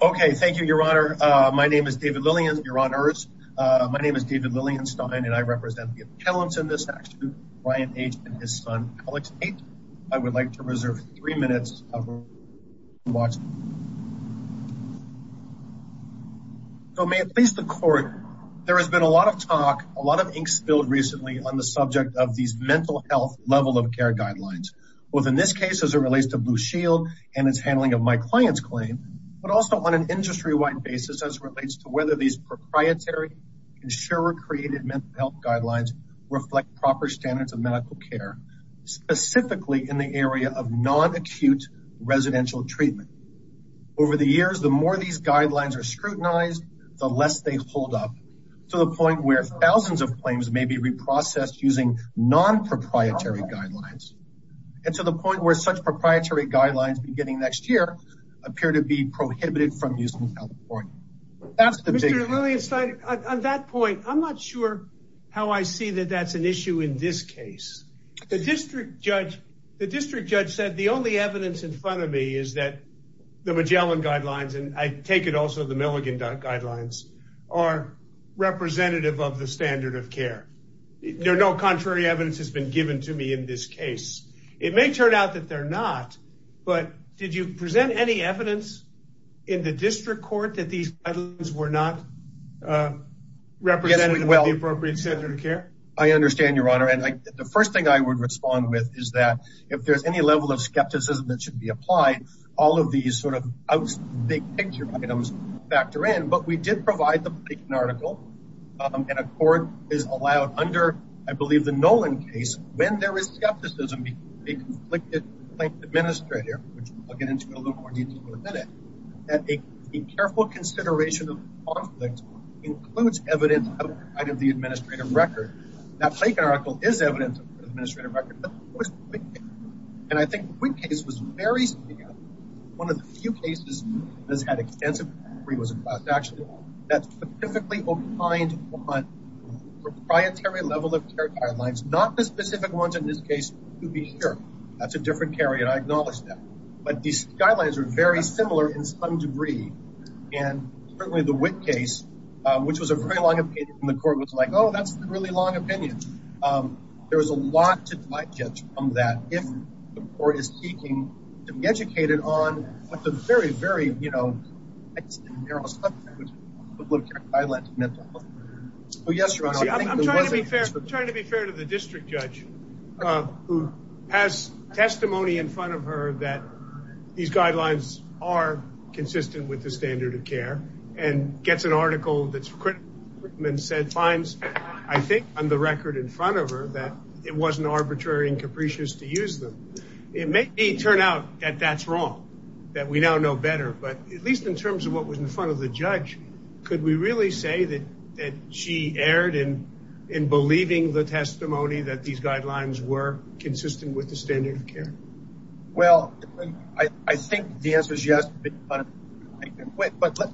Okay, thank you, Your Honor. My name is David Lillian, Your Honor. My name is David Lillian Stein, and I represent the appellants in this action, Brian H. and his son, Alex H. I would like to reserve three minutes of your time. So may it please the Court, there has been a lot of talk, a lot of ink spilled recently on the subject of these mental health level of care guidelines, both in this case as it relates to Blue Shield and its handling of my client's claim, but also on an industry-wide basis as it relates to whether these proprietary, insurer-created mental health guidelines reflect proper standards of medical care, specifically in the area of non-acute residential treatment. Over the years, the more these guidelines are scrutinized, the less they hold up, to the point where thousands of claims may be reprocessed using non-proprietary guidelines, and to the point where such proprietary guidelines beginning next year appear to be prohibited from use in California. Mr. Lillian Stein, on that point, I'm not sure how I see that that's an issue in this case. The district judge said the only evidence in front of me is that the Magellan guidelines, and I take it also the Milligan guidelines, are representative of the standard of care. No contrary evidence has been presented, but did you present any evidence in the district court that these guidelines were not representative of the appropriate standard of care? I understand, your honor, and the first thing I would respond with is that if there's any level of skepticism that should be applied, all of these sort of big picture items factor in, but we did provide the article, and a court is allowed under, I believe, the Nolan case when there is skepticism because a conflicted plaintiff administrator, which I'll get into a little more detail in a minute, that a careful consideration of conflict includes evidence outside of the administrative record. That Plank article is evidence of the administrative record, and I think the Witt case was very severe. One of the few cases that has had extensive inquiry was a class action that specifically opined on proprietary level of care guidelines, not the specific ones in this case to be here. That's a different carry, and I acknowledge that, but these guidelines are very similar in some degree, and certainly the Witt case, which was a very long opinion, the court was like, oh, that's a really long opinion. There was a lot to digest from that if the court is seeking to be educated on what the very, very, you know, narrow subject of public care guidelines meant. Oh, yes, Ron. I'm trying to be fair to the district judge who has testimony in front of her that these guidelines are consistent with the standard of care and gets an article that's written and said, finds, I think, on the record in front of her that it wasn't arbitrary and capricious to use them. It may turn out that that's wrong, that we now know better, but at least in terms of what that she aired in believing the testimony that these guidelines were consistent with the standard of care. Well, I think the answer is yes, but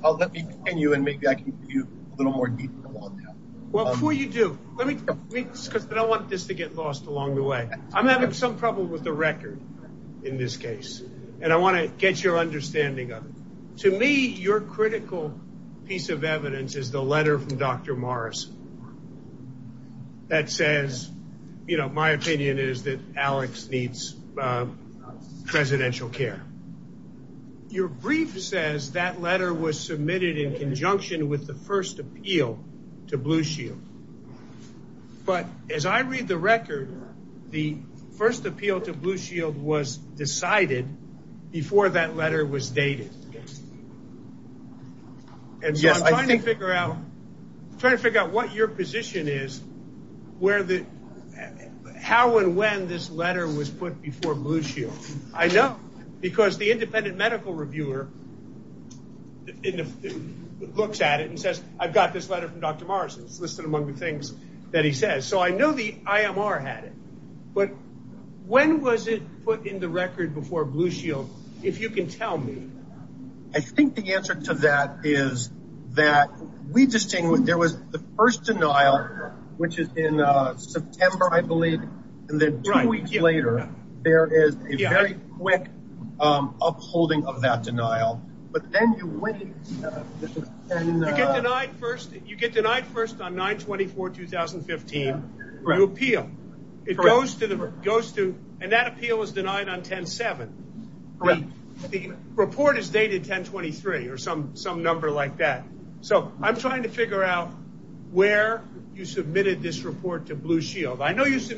I'll let me continue, and maybe I can give you a little more detail on that. Well, before you do, let me, because I don't want this to get lost along the way. I'm having some trouble with the record in this case, and I want to get your understanding of it. To me, your critical piece of evidence is the letter from Dr. Morrison that says, you know, my opinion is that Alex needs presidential care. Your brief says that letter was submitted in conjunction with the first appeal to Blue Shield, but as I read the record, the first appeal to Blue Shield was decided before that letter was dated. And so I'm trying to figure out what your position is, where the, how and when this letter was put before Blue Shield. I know, because the independent medical reviewer looks at it and says, I've got this letter from Dr. Morrison. It's listed among things that he says. So I know the IMR had it, but when was it put in the record before Blue Shield, if you can tell me? I think the answer to that is that we distinguish, there was the first denial, which is in September, I believe, and then two weeks later, there is a very quick upholding of that denial. But then you get denied first, you get denied first on 9-24-2015, your appeal. It goes to, and that appeal is denied on 10-7. The report is dated 10-23 or some number like that. So I'm trying to figure out where you submitted this report to Blue Shield. I know you your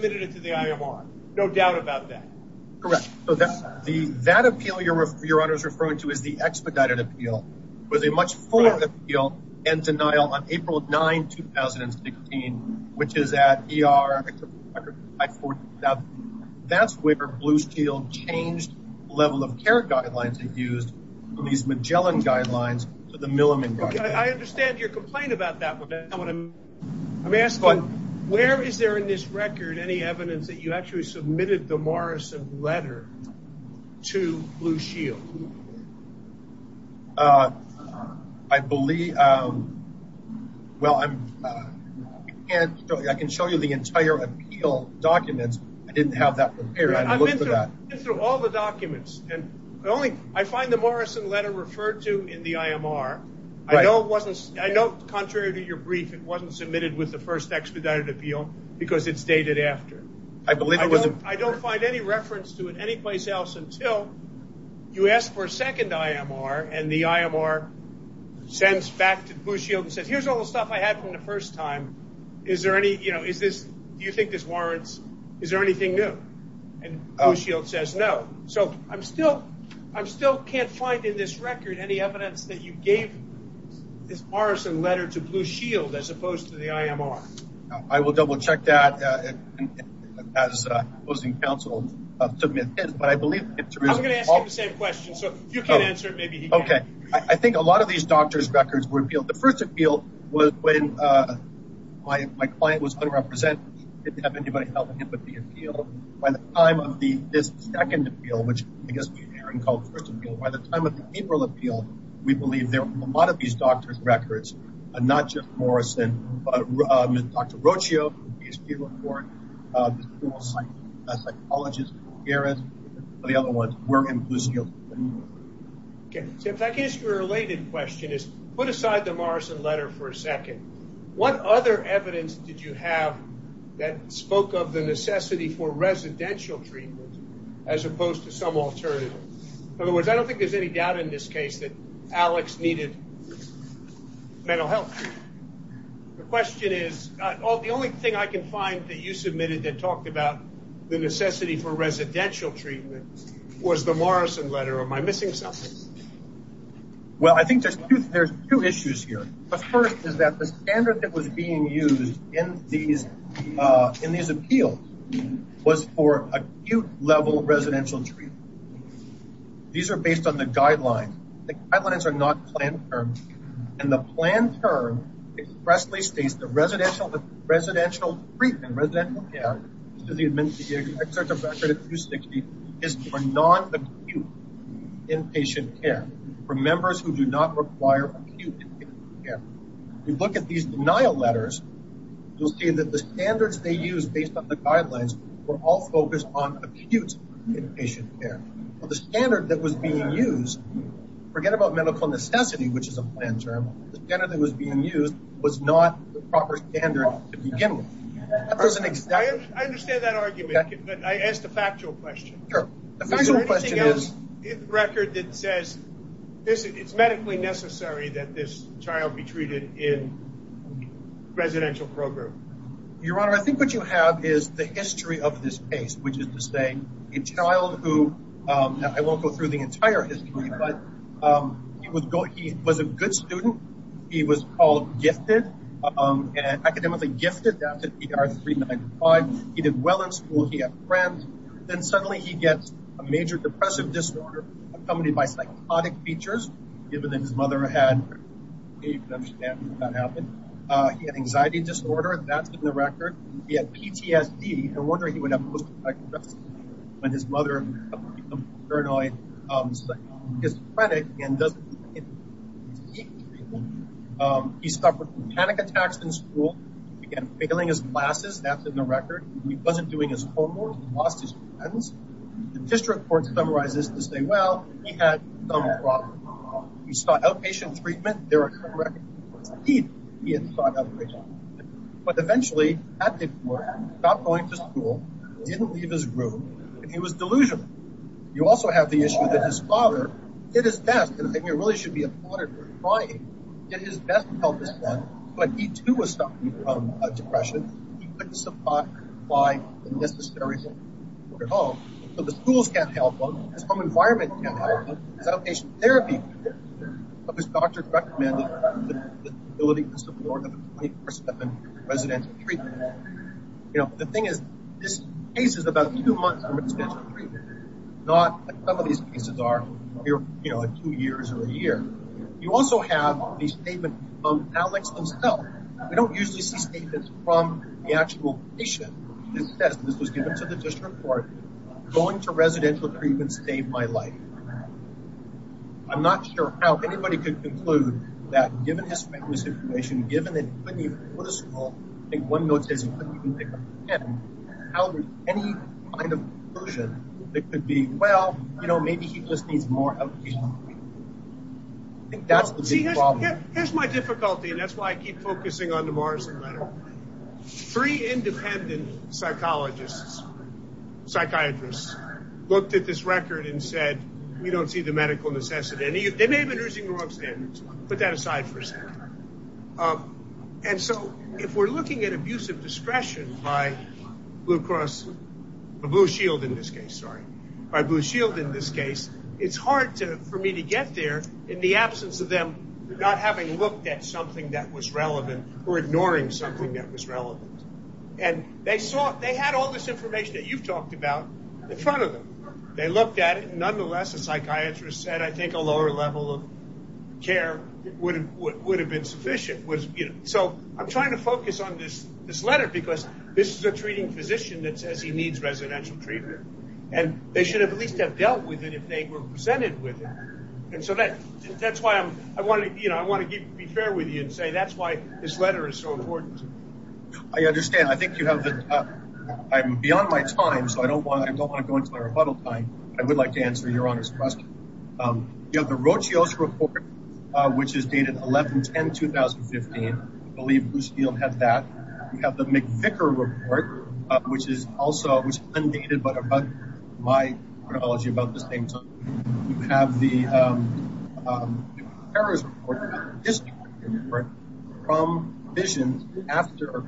honor's referring to is the expedited appeal. It was a much fuller appeal and denial on April 9-2016, which is at ER. That's where Blue Shield changed the level of care guidelines they've used from these Magellan guidelines to the Milliman guidelines. I understand your complaint about that. I'm asking, where is there in this record any evidence that you actually submitted the Blue Shield? I believe, well, I can show you the entire appeal documents. I didn't have that prepared. I looked for that. I've been through all the documents and I find the Morrison letter referred to in the IMR. I know it wasn't, I know contrary to your brief, it wasn't submitted with the first expedited appeal because it's dated after. I don't find any reference to it anyplace else until you ask for a second IMR and the IMR sends back to Blue Shield and says, here's all the stuff I had from the first time. Is there any, you know, is this, do you think this warrants, is there anything new? And Blue Shield says no. So I'm still, I still can't find in this record any evidence that you gave this Morrison letter to Blue Shield as opposed to the IMR. I will double I'm going to ask him the same question, so if you can't answer it, maybe he can. Okay. I think a lot of these doctors' records were appealed. The first appeal was when my client was unrepresented. He didn't have anybody helping him with the appeal. By the time of the, this second appeal, which I guess Aaron called the first appeal, by the time of the April appeal, we believe there were a lot of these doctors' records, not just Morrison, but Dr. Rocio, a PhD report, a psychologist, Gareth, the other ones were in Blue Shield. Okay, so if that gets your related question is, put aside the Morrison letter for a second. What other evidence did you have that spoke of the necessity for residential treatment as opposed to some alternative? In other words, I don't think there's any doubt in this case that Alex needed mental health. The question is, the only thing I can find that you submitted that talked about the necessity for residential treatment was the Morrison letter. Am I missing something? Well, I think there's two issues here. The first is that the standard that was being used in these appeals was for acute level residential treatment. These are based on the guidelines. The guidelines are not planned terms. And the planned term expressly states that residential treatment, residential care, is for non-acute inpatient care, for members who do not require acute inpatient care. You look at these denial letters, you'll see that the standards they use based on the guidelines were all focused on acute inpatient care. The standard that was being used, forget about medical necessity, which is a planned term, the standard that was being used was not the proper standard to begin with. I understand that argument, but I asked a factual question. Is there anything else in the record that says it's medically necessary that this child be treated in residential program? Your Honor, I think what you have is the history of this case, which is to say a child who, I won't go through the entire history, but he was a good student. He was called gifted, academically gifted after PR 395. He did well in school. He had friends. Then suddenly he gets a major depressive disorder accompanied by psychotic features, given that his mother had, you can understand how that happened. He had anxiety disorder. That's in the record. He had PTSD. No wonder he would have post-traumatic stress disorder when his mother became paranoid. He suffered panic attacks in school. He began failing his classes. That's in the record. He wasn't doing his homework. He lost his friends. The district court summarizes this to say, well, he had some problems. He sought outpatient treatment. There are some records that say he sought outpatient treatment. But eventually, at the court, he stopped going to school, didn't leave his room, and he was delusional. You also have the issue that his father did his best, and I think we really should be applauded for trying, did his best to help his son, but he, too, was suffering from depression. He couldn't supply the necessary support at home, so the schools can't help him. His home environment can't help him. His outpatient therapy of his doctors recommended the ability to support a 24-7 residential treatment. The thing is, this case is about two months from residential treatment. Some of these cases are two years or a year. You also have the statement from Alex himself. We don't usually see statements from the actual patient. It says, this was given to the district court, going to residential treatment saved my life. I'm not sure how anybody could conclude that, given his famous information, given that he couldn't even go to school, I think one note says he couldn't even pick up a pen, how would any kind of conclusion that could be, well, you know, maybe he just needs more outpatient treatment. I think that's the big problem. Here's my difficulty, and that's why I keep focusing on the Morrison letter. Three independent psychologists, psychiatrists, looked at this record and said, we don't see the medical necessity. They may have been using the wrong standards, put that aside for a second. And so if we're looking at abusive discretion by Blue Cross, or Blue Shield in this case, sorry, by Blue Shield in this case, it's hard for me to get there in the absence of them not having looked at something that was relevant or ignoring something that was relevant. And they saw, they had all this information that you've talked about in front of them. They looked at it. Nonetheless, a psychiatrist said, I think a lower level of care would have been sufficient. So I'm trying to focus on this letter because this is a treating physician that says he needs residential treatment. And they should have at least have dealt with it if they were presented with it. And so that's why I want to be fair with you and say, that's why this letter is so important. I understand. I think you have the, I'm beyond my time. So I don't want, I don't want to go into my rebuttal time. I would like to answer your honor's question. You have the Rochios report, which is dated 11, 10, 2015. I believe Blue Shield had that. You have the McVicker report, which is also undated, but about my chronology, about the same time. You have the Harris report from visions after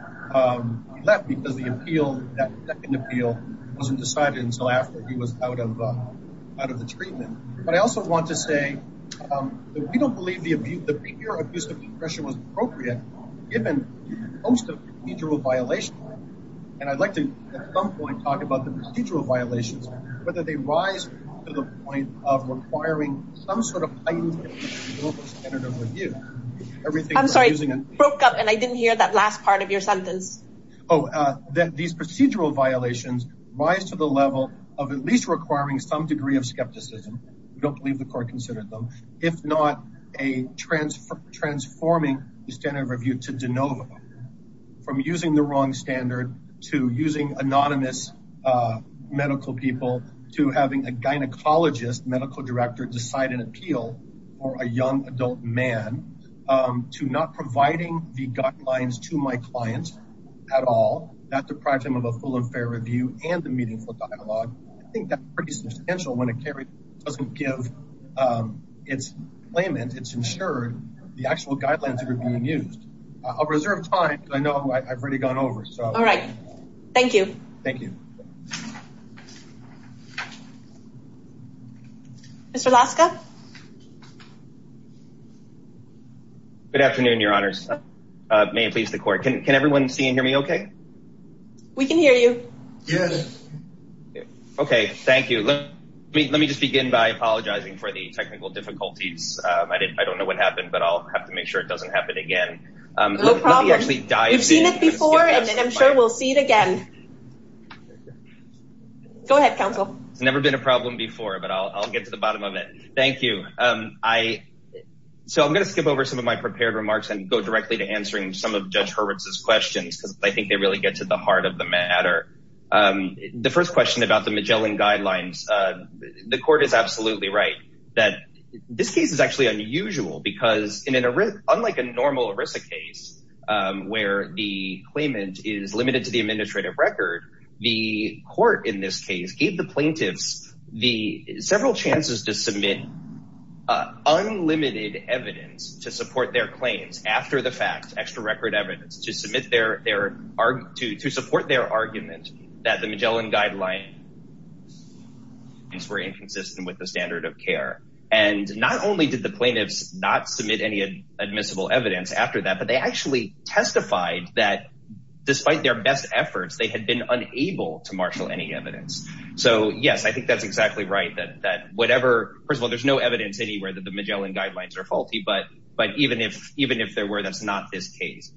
he left because the appeal, that second appeal wasn't decided until after he was out of the treatment. But I also want to say that we don't believe the abuse, the mere abuse of depression was appropriate given most of the procedural violations. And I'd like to at some point talk about the procedural violations, whether they rise to the point of requiring some sort of standard of review, everything. I'm sorry, I broke up and I didn't hear that last part of your sentence. Oh, these procedural violations rise to the level of at least requiring some degree of skepticism. We don't believe the court considered them. If not a transfer, transforming the standard of to having a gynecologist medical director decide an appeal for a young adult man to not providing the guidelines to my clients at all, that deprived him of a full and fair review and the meaningful dialogue. I think that's pretty substantial when a carrier doesn't give its claimant, it's insured the actual guidelines are being used. I'll reserve time. I know I've gone over. All right. Thank you. Thank you. Mr. Laska. Good afternoon, your honors. May it please the court. Can everyone see and hear me okay? We can hear you. Yes. Okay. Thank you. Let me just begin by apologizing for the technical difficulties. I don't know what happened, but I'll have to make sure it doesn't happen again. No problem. We've seen it before and I'm sure we'll see it again. Go ahead, counsel. It's never been a problem before, but I'll get to the bottom of it. Thank you. So I'm going to skip over some of my prepared remarks and go directly to answering some of Judge Hurwitz's questions because I think they really get to the heart of the matter. The first question about the Magellan guidelines. The court is absolutely right that this case is actually unusual because unlike a normal ERISA case where the claimant is limited to the administrative record, the court in this case gave the plaintiffs several chances to submit unlimited evidence to support their claims after the fact, extra record evidence, to support their argument that the Magellan guidelines were inconsistent with the standard of care. And not only did the plaintiffs not submit any admissible evidence after that, but they actually testified that despite their best efforts, they had been unable to marshal any evidence. So yes, I think that's exactly right that whatever, first of all, there's no evidence anywhere that the Magellan guidelines are faulty, but even if there were, that's not this case.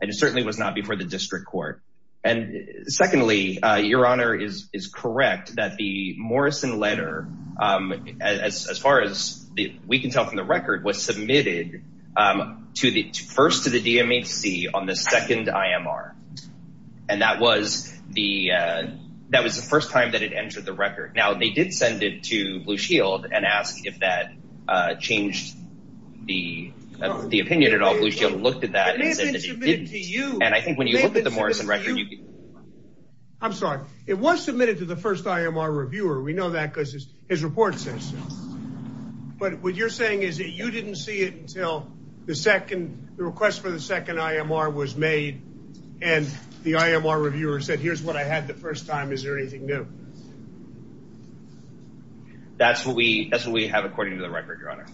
And it certainly was not before the district court. And secondly, Your Honor is correct that the Morrison letter, as far as we can tell from the record, was submitted first to the DMHC on the second IMR. And that was the first time that it entered the record. Now, they did send it to Blue Shield and ask if that changed the opinion at all. Blue I'm sorry. It was submitted to the first IMR reviewer. We know that because his report says so. But what you're saying is that you didn't see it until the second, the request for the second IMR was made. And the IMR reviewer said, here's what I had the first time. Is there anything new? That's what we have, according to the record, Your Honor.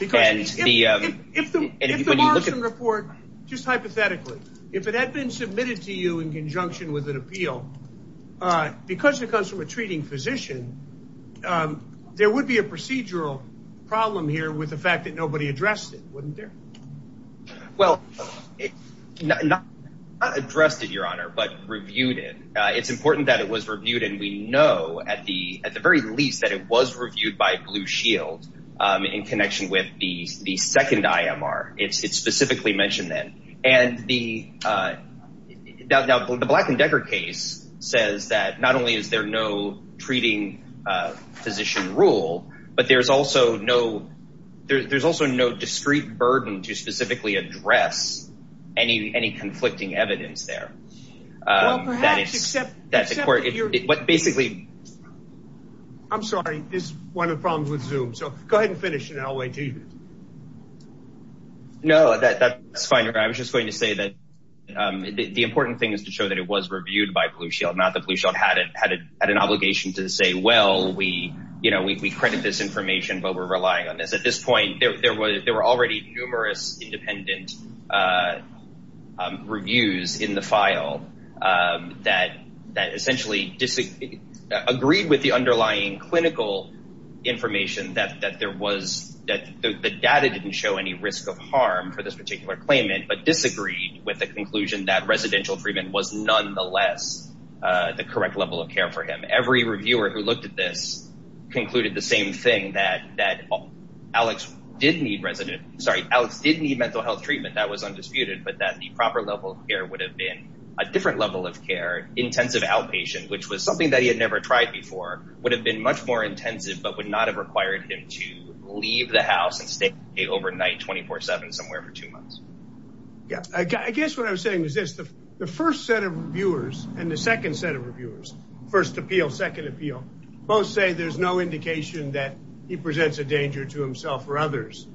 If the Morrison report, just hypothetically, if it had been submitted to you in conjunction with an appeal, because it comes from a treating physician, there would be a procedural problem here with the fact that nobody addressed it, wouldn't there? Well, not addressed it, Your Honor, but reviewed it. It's important that it was reviewed. And we know at the very least that it was reviewed by Blue and the Black and Decker case says that not only is there no treating physician rule, but there's also no discreet burden to specifically address any conflicting evidence there. I'm sorry. This is one of the problems with Zoom. So go ahead and finish and I'll wait for you. No, that's fine. I was just going to say that the important thing is to show that it was reviewed by Blue Shield, not that Blue Shield had an obligation to say, well, we credit this information, but we're relying on this. At this point, there were already numerous independent reviews in the file that essentially agreed with the underlying clinical information that the data didn't show any risk of harm for this particular claimant, but disagreed with the conclusion that residential treatment was nonetheless the correct level of care for him. Every reviewer who looked at this concluded the same thing that Alex did need mental health treatment, that was undisputed, but that the proper level of care would have been a different level of care, intensive outpatient, which was something that would not have required him to leave the house and stay overnight 24-7 somewhere for two months. I guess what I'm saying is this, the first set of reviewers and the second set of reviewers, first appeal, second appeal, both say there's no indication that he presents a danger to himself or others.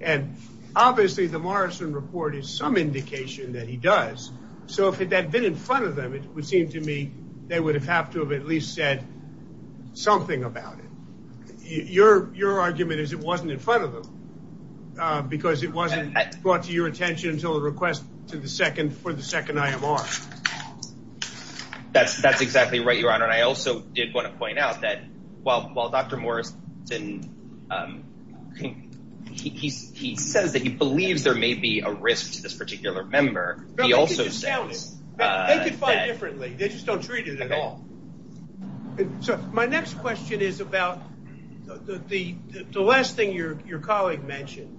And obviously the Morrison report is some indication that he does. So if it had been in front of them, it would seem to me they would have had to have at least said something about it. Your argument is it wasn't in front of them because it wasn't brought to your attention until the request for the second IMR. That's exactly right, Your Honor. And I also did want to point out that while Dr. Morrison, he says that he believes there may be a risk to this particular member, he also says... They can find it differently. They just don't treat it at all. So my next question is about the last thing your colleague mentioned.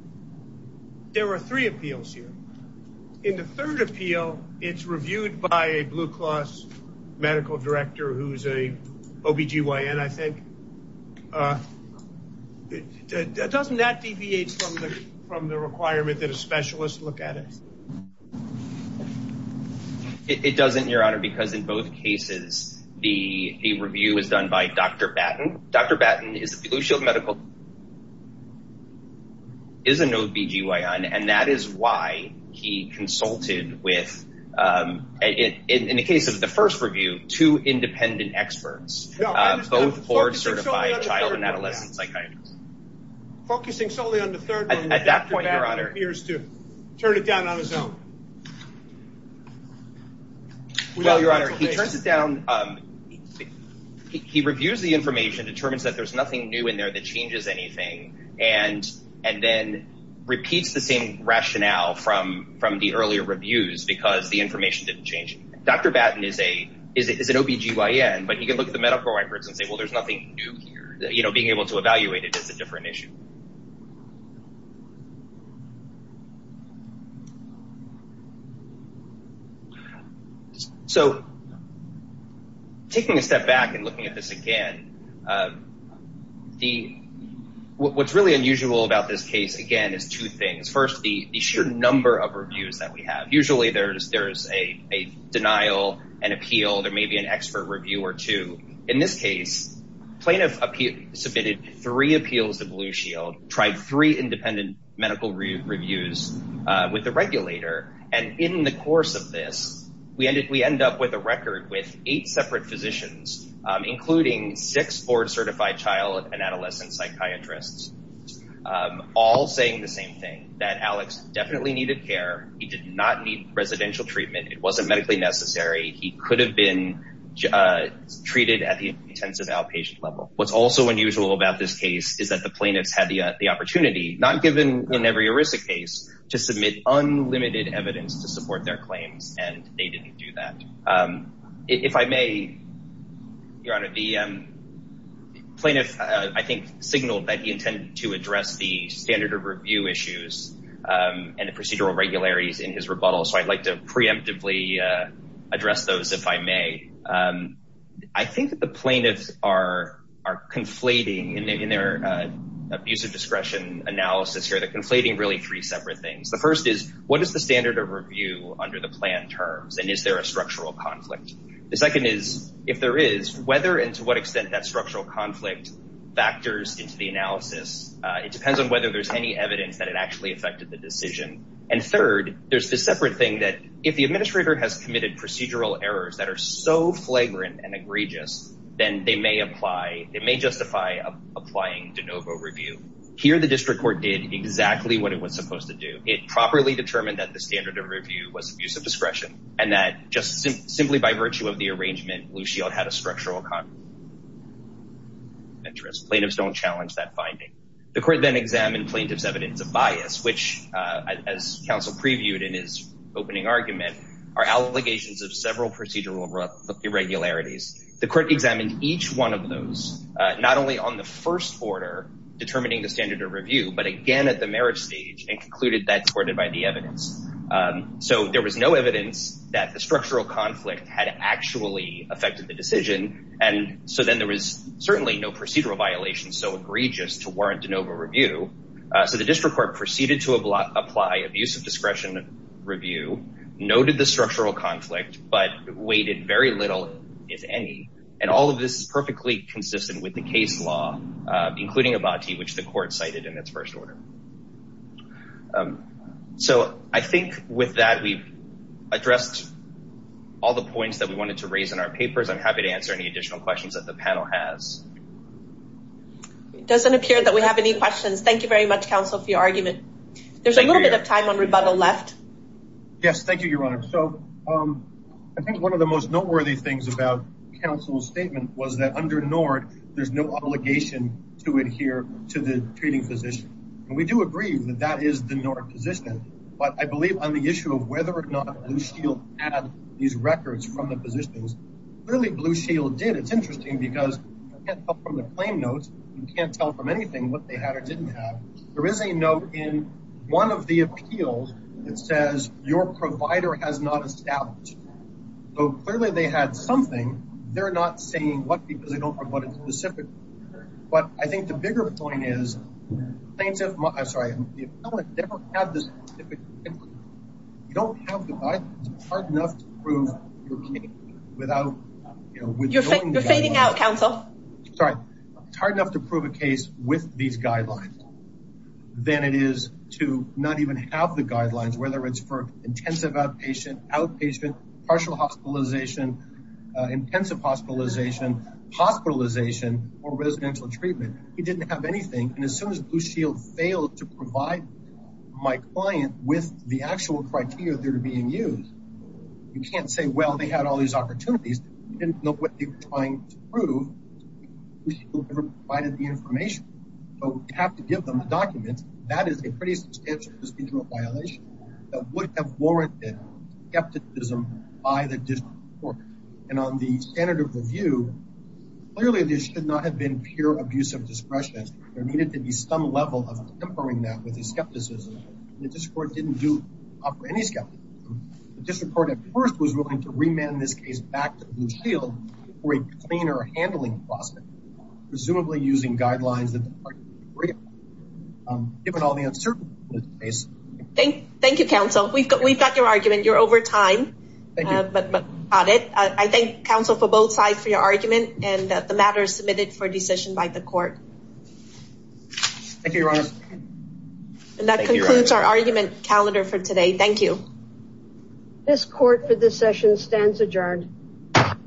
There were three appeals here. In the third appeal, it's reviewed by a Blue Cross medical director who's a OBGYN, I think. Doesn't that deviate from the requirement that a specialist look at it? It doesn't, Your Honor, because in both cases, the review was done by Dr. Batten. Dr. Batten is a Blue Shield medical... Is an OBGYN, and that is why he consulted with, in the case of the first review, two independent experts, both board certified child and adolescent psychiatrists. Focusing solely on the third one, Dr. Batten appears to turn it down on his own. Well, Your Honor, he turns it down. He reviews the information, determines that there's nothing new in there that changes anything, and then repeats the same rationale from the earlier reviews because the information didn't change. Dr. Batten is an OBGYN, but he can look at the different issues. So taking a step back and looking at this again, what's really unusual about this case, again, is two things. First, the sheer number of reviews that we have. Usually there's a denial, an appeal, there may be an expert review or two. In this case, plaintiff submitted three appeals to Blue Shield, tried three independent medical reviews with the regulator, and in the course of this, we end up with a record with eight separate physicians, including six board certified child and adolescent psychiatrists, all saying the same thing, that Alex definitely needed care. He did not need residential treatment. It wasn't medically necessary. He could have been treated at the intensive outpatient level. What's also unusual about this case is that the plaintiffs had the opportunity, not given in every ERISA case, to submit unlimited evidence to support their claims, and they didn't do that. If I may, Your Honor, the plaintiff, I think, signaled that he intended to address the standard of review issues and the procedural regularities in his rebuttal, so I'd like to preemptively address those, if I may. I think that the plaintiffs are conflating in their abuse of discretion analysis here, they're conflating really three separate things. The first is, what is the standard of review under the plan terms, and is there a structural conflict? The second is, if there is, whether and to what extent that structural conflict factors into the analysis, it depends on whether there's any evidence that it actually affected the decision. And third, there's this separate thing that if the administrator has committed procedural errors that are so flagrant and egregious, then they may apply, they may justify applying de novo review. Here, the district court did exactly what it was supposed to do. It properly determined that the standard of review was abuse of discretion. Plaintiffs don't challenge that finding. The court then examined plaintiff's evidence of bias, which, as counsel previewed in his opening argument, are allegations of several procedural irregularities. The court examined each one of those, not only on the first order, determining the standard of review, but again at the merit stage and concluded that supported by the evidence. So there was no evidence that the structural conflict had actually affected the decision, and so then there was certainly no procedural violation so egregious to warrant de novo review. So the district court proceeded to apply abuse of discretion review, noted the structural conflict, but weighted very little, if any. And all of this is perfectly consistent with the case law, including Abati, which the court cited in its first order. So I think with that, we've addressed all the points that we wanted to raise in our papers. I'm happy to answer any additional questions that the panel has. It doesn't appear that we have any questions. Thank you very much, counsel, for your argument. There's a little bit of time on rebuttal left. Yes, thank you, your honor. So I think one of the most noteworthy things about counsel's statement was that under NORD, there's no obligation to adhere to the treating physician. And we do agree that that is the NORD position, but I believe on the issue of whether or not Blue Shield had these records from the physicians, clearly Blue Shield did. It's interesting because you can't tell from the claim notes, you can't tell from anything what they had or didn't have. There is a note in one of the appeals that says your provider has not established. So clearly they had something. They're not saying what because they don't know what it's specific. But I think the bigger point is plaintiff, I'm sorry, if someone didn't have this, you don't have the right, it's hard enough to prove without... You're fading out, counsel. Sorry. It's hard enough to prove a case with these guidelines than it is to not even have the guidelines, whether it's for intensive outpatient, outpatient, partial hospitalization, intensive hospitalization, hospitalization, or residential treatment. He didn't have anything. And as soon as Blue Shield failed to provide my client with the actual criteria that are being used, you can't say, well, they had all these opportunities. You didn't know what they were trying to prove. Blue Shield never provided the information. So you have to give them the documents. That is a pretty substantial procedural violation that would have warranted skepticism by the district court. And on the standard of review, clearly there should not have been pure abuse of discretion. There needed to be some level of tempering that with the skepticism. The district court didn't offer any skepticism. The district court at first was willing to remand this case back to Blue Shield for a cleaner handling process, presumably using guidelines given all the uncertainty in this case. Thank you, counsel. We've got your argument. You're over time, but got it. I thank counsel for both sides for your argument and that the matter is submitted for decision by the court. Thank you, your honor. And that concludes our argument calendar for today. Thank you. This court for this session stands adjourned.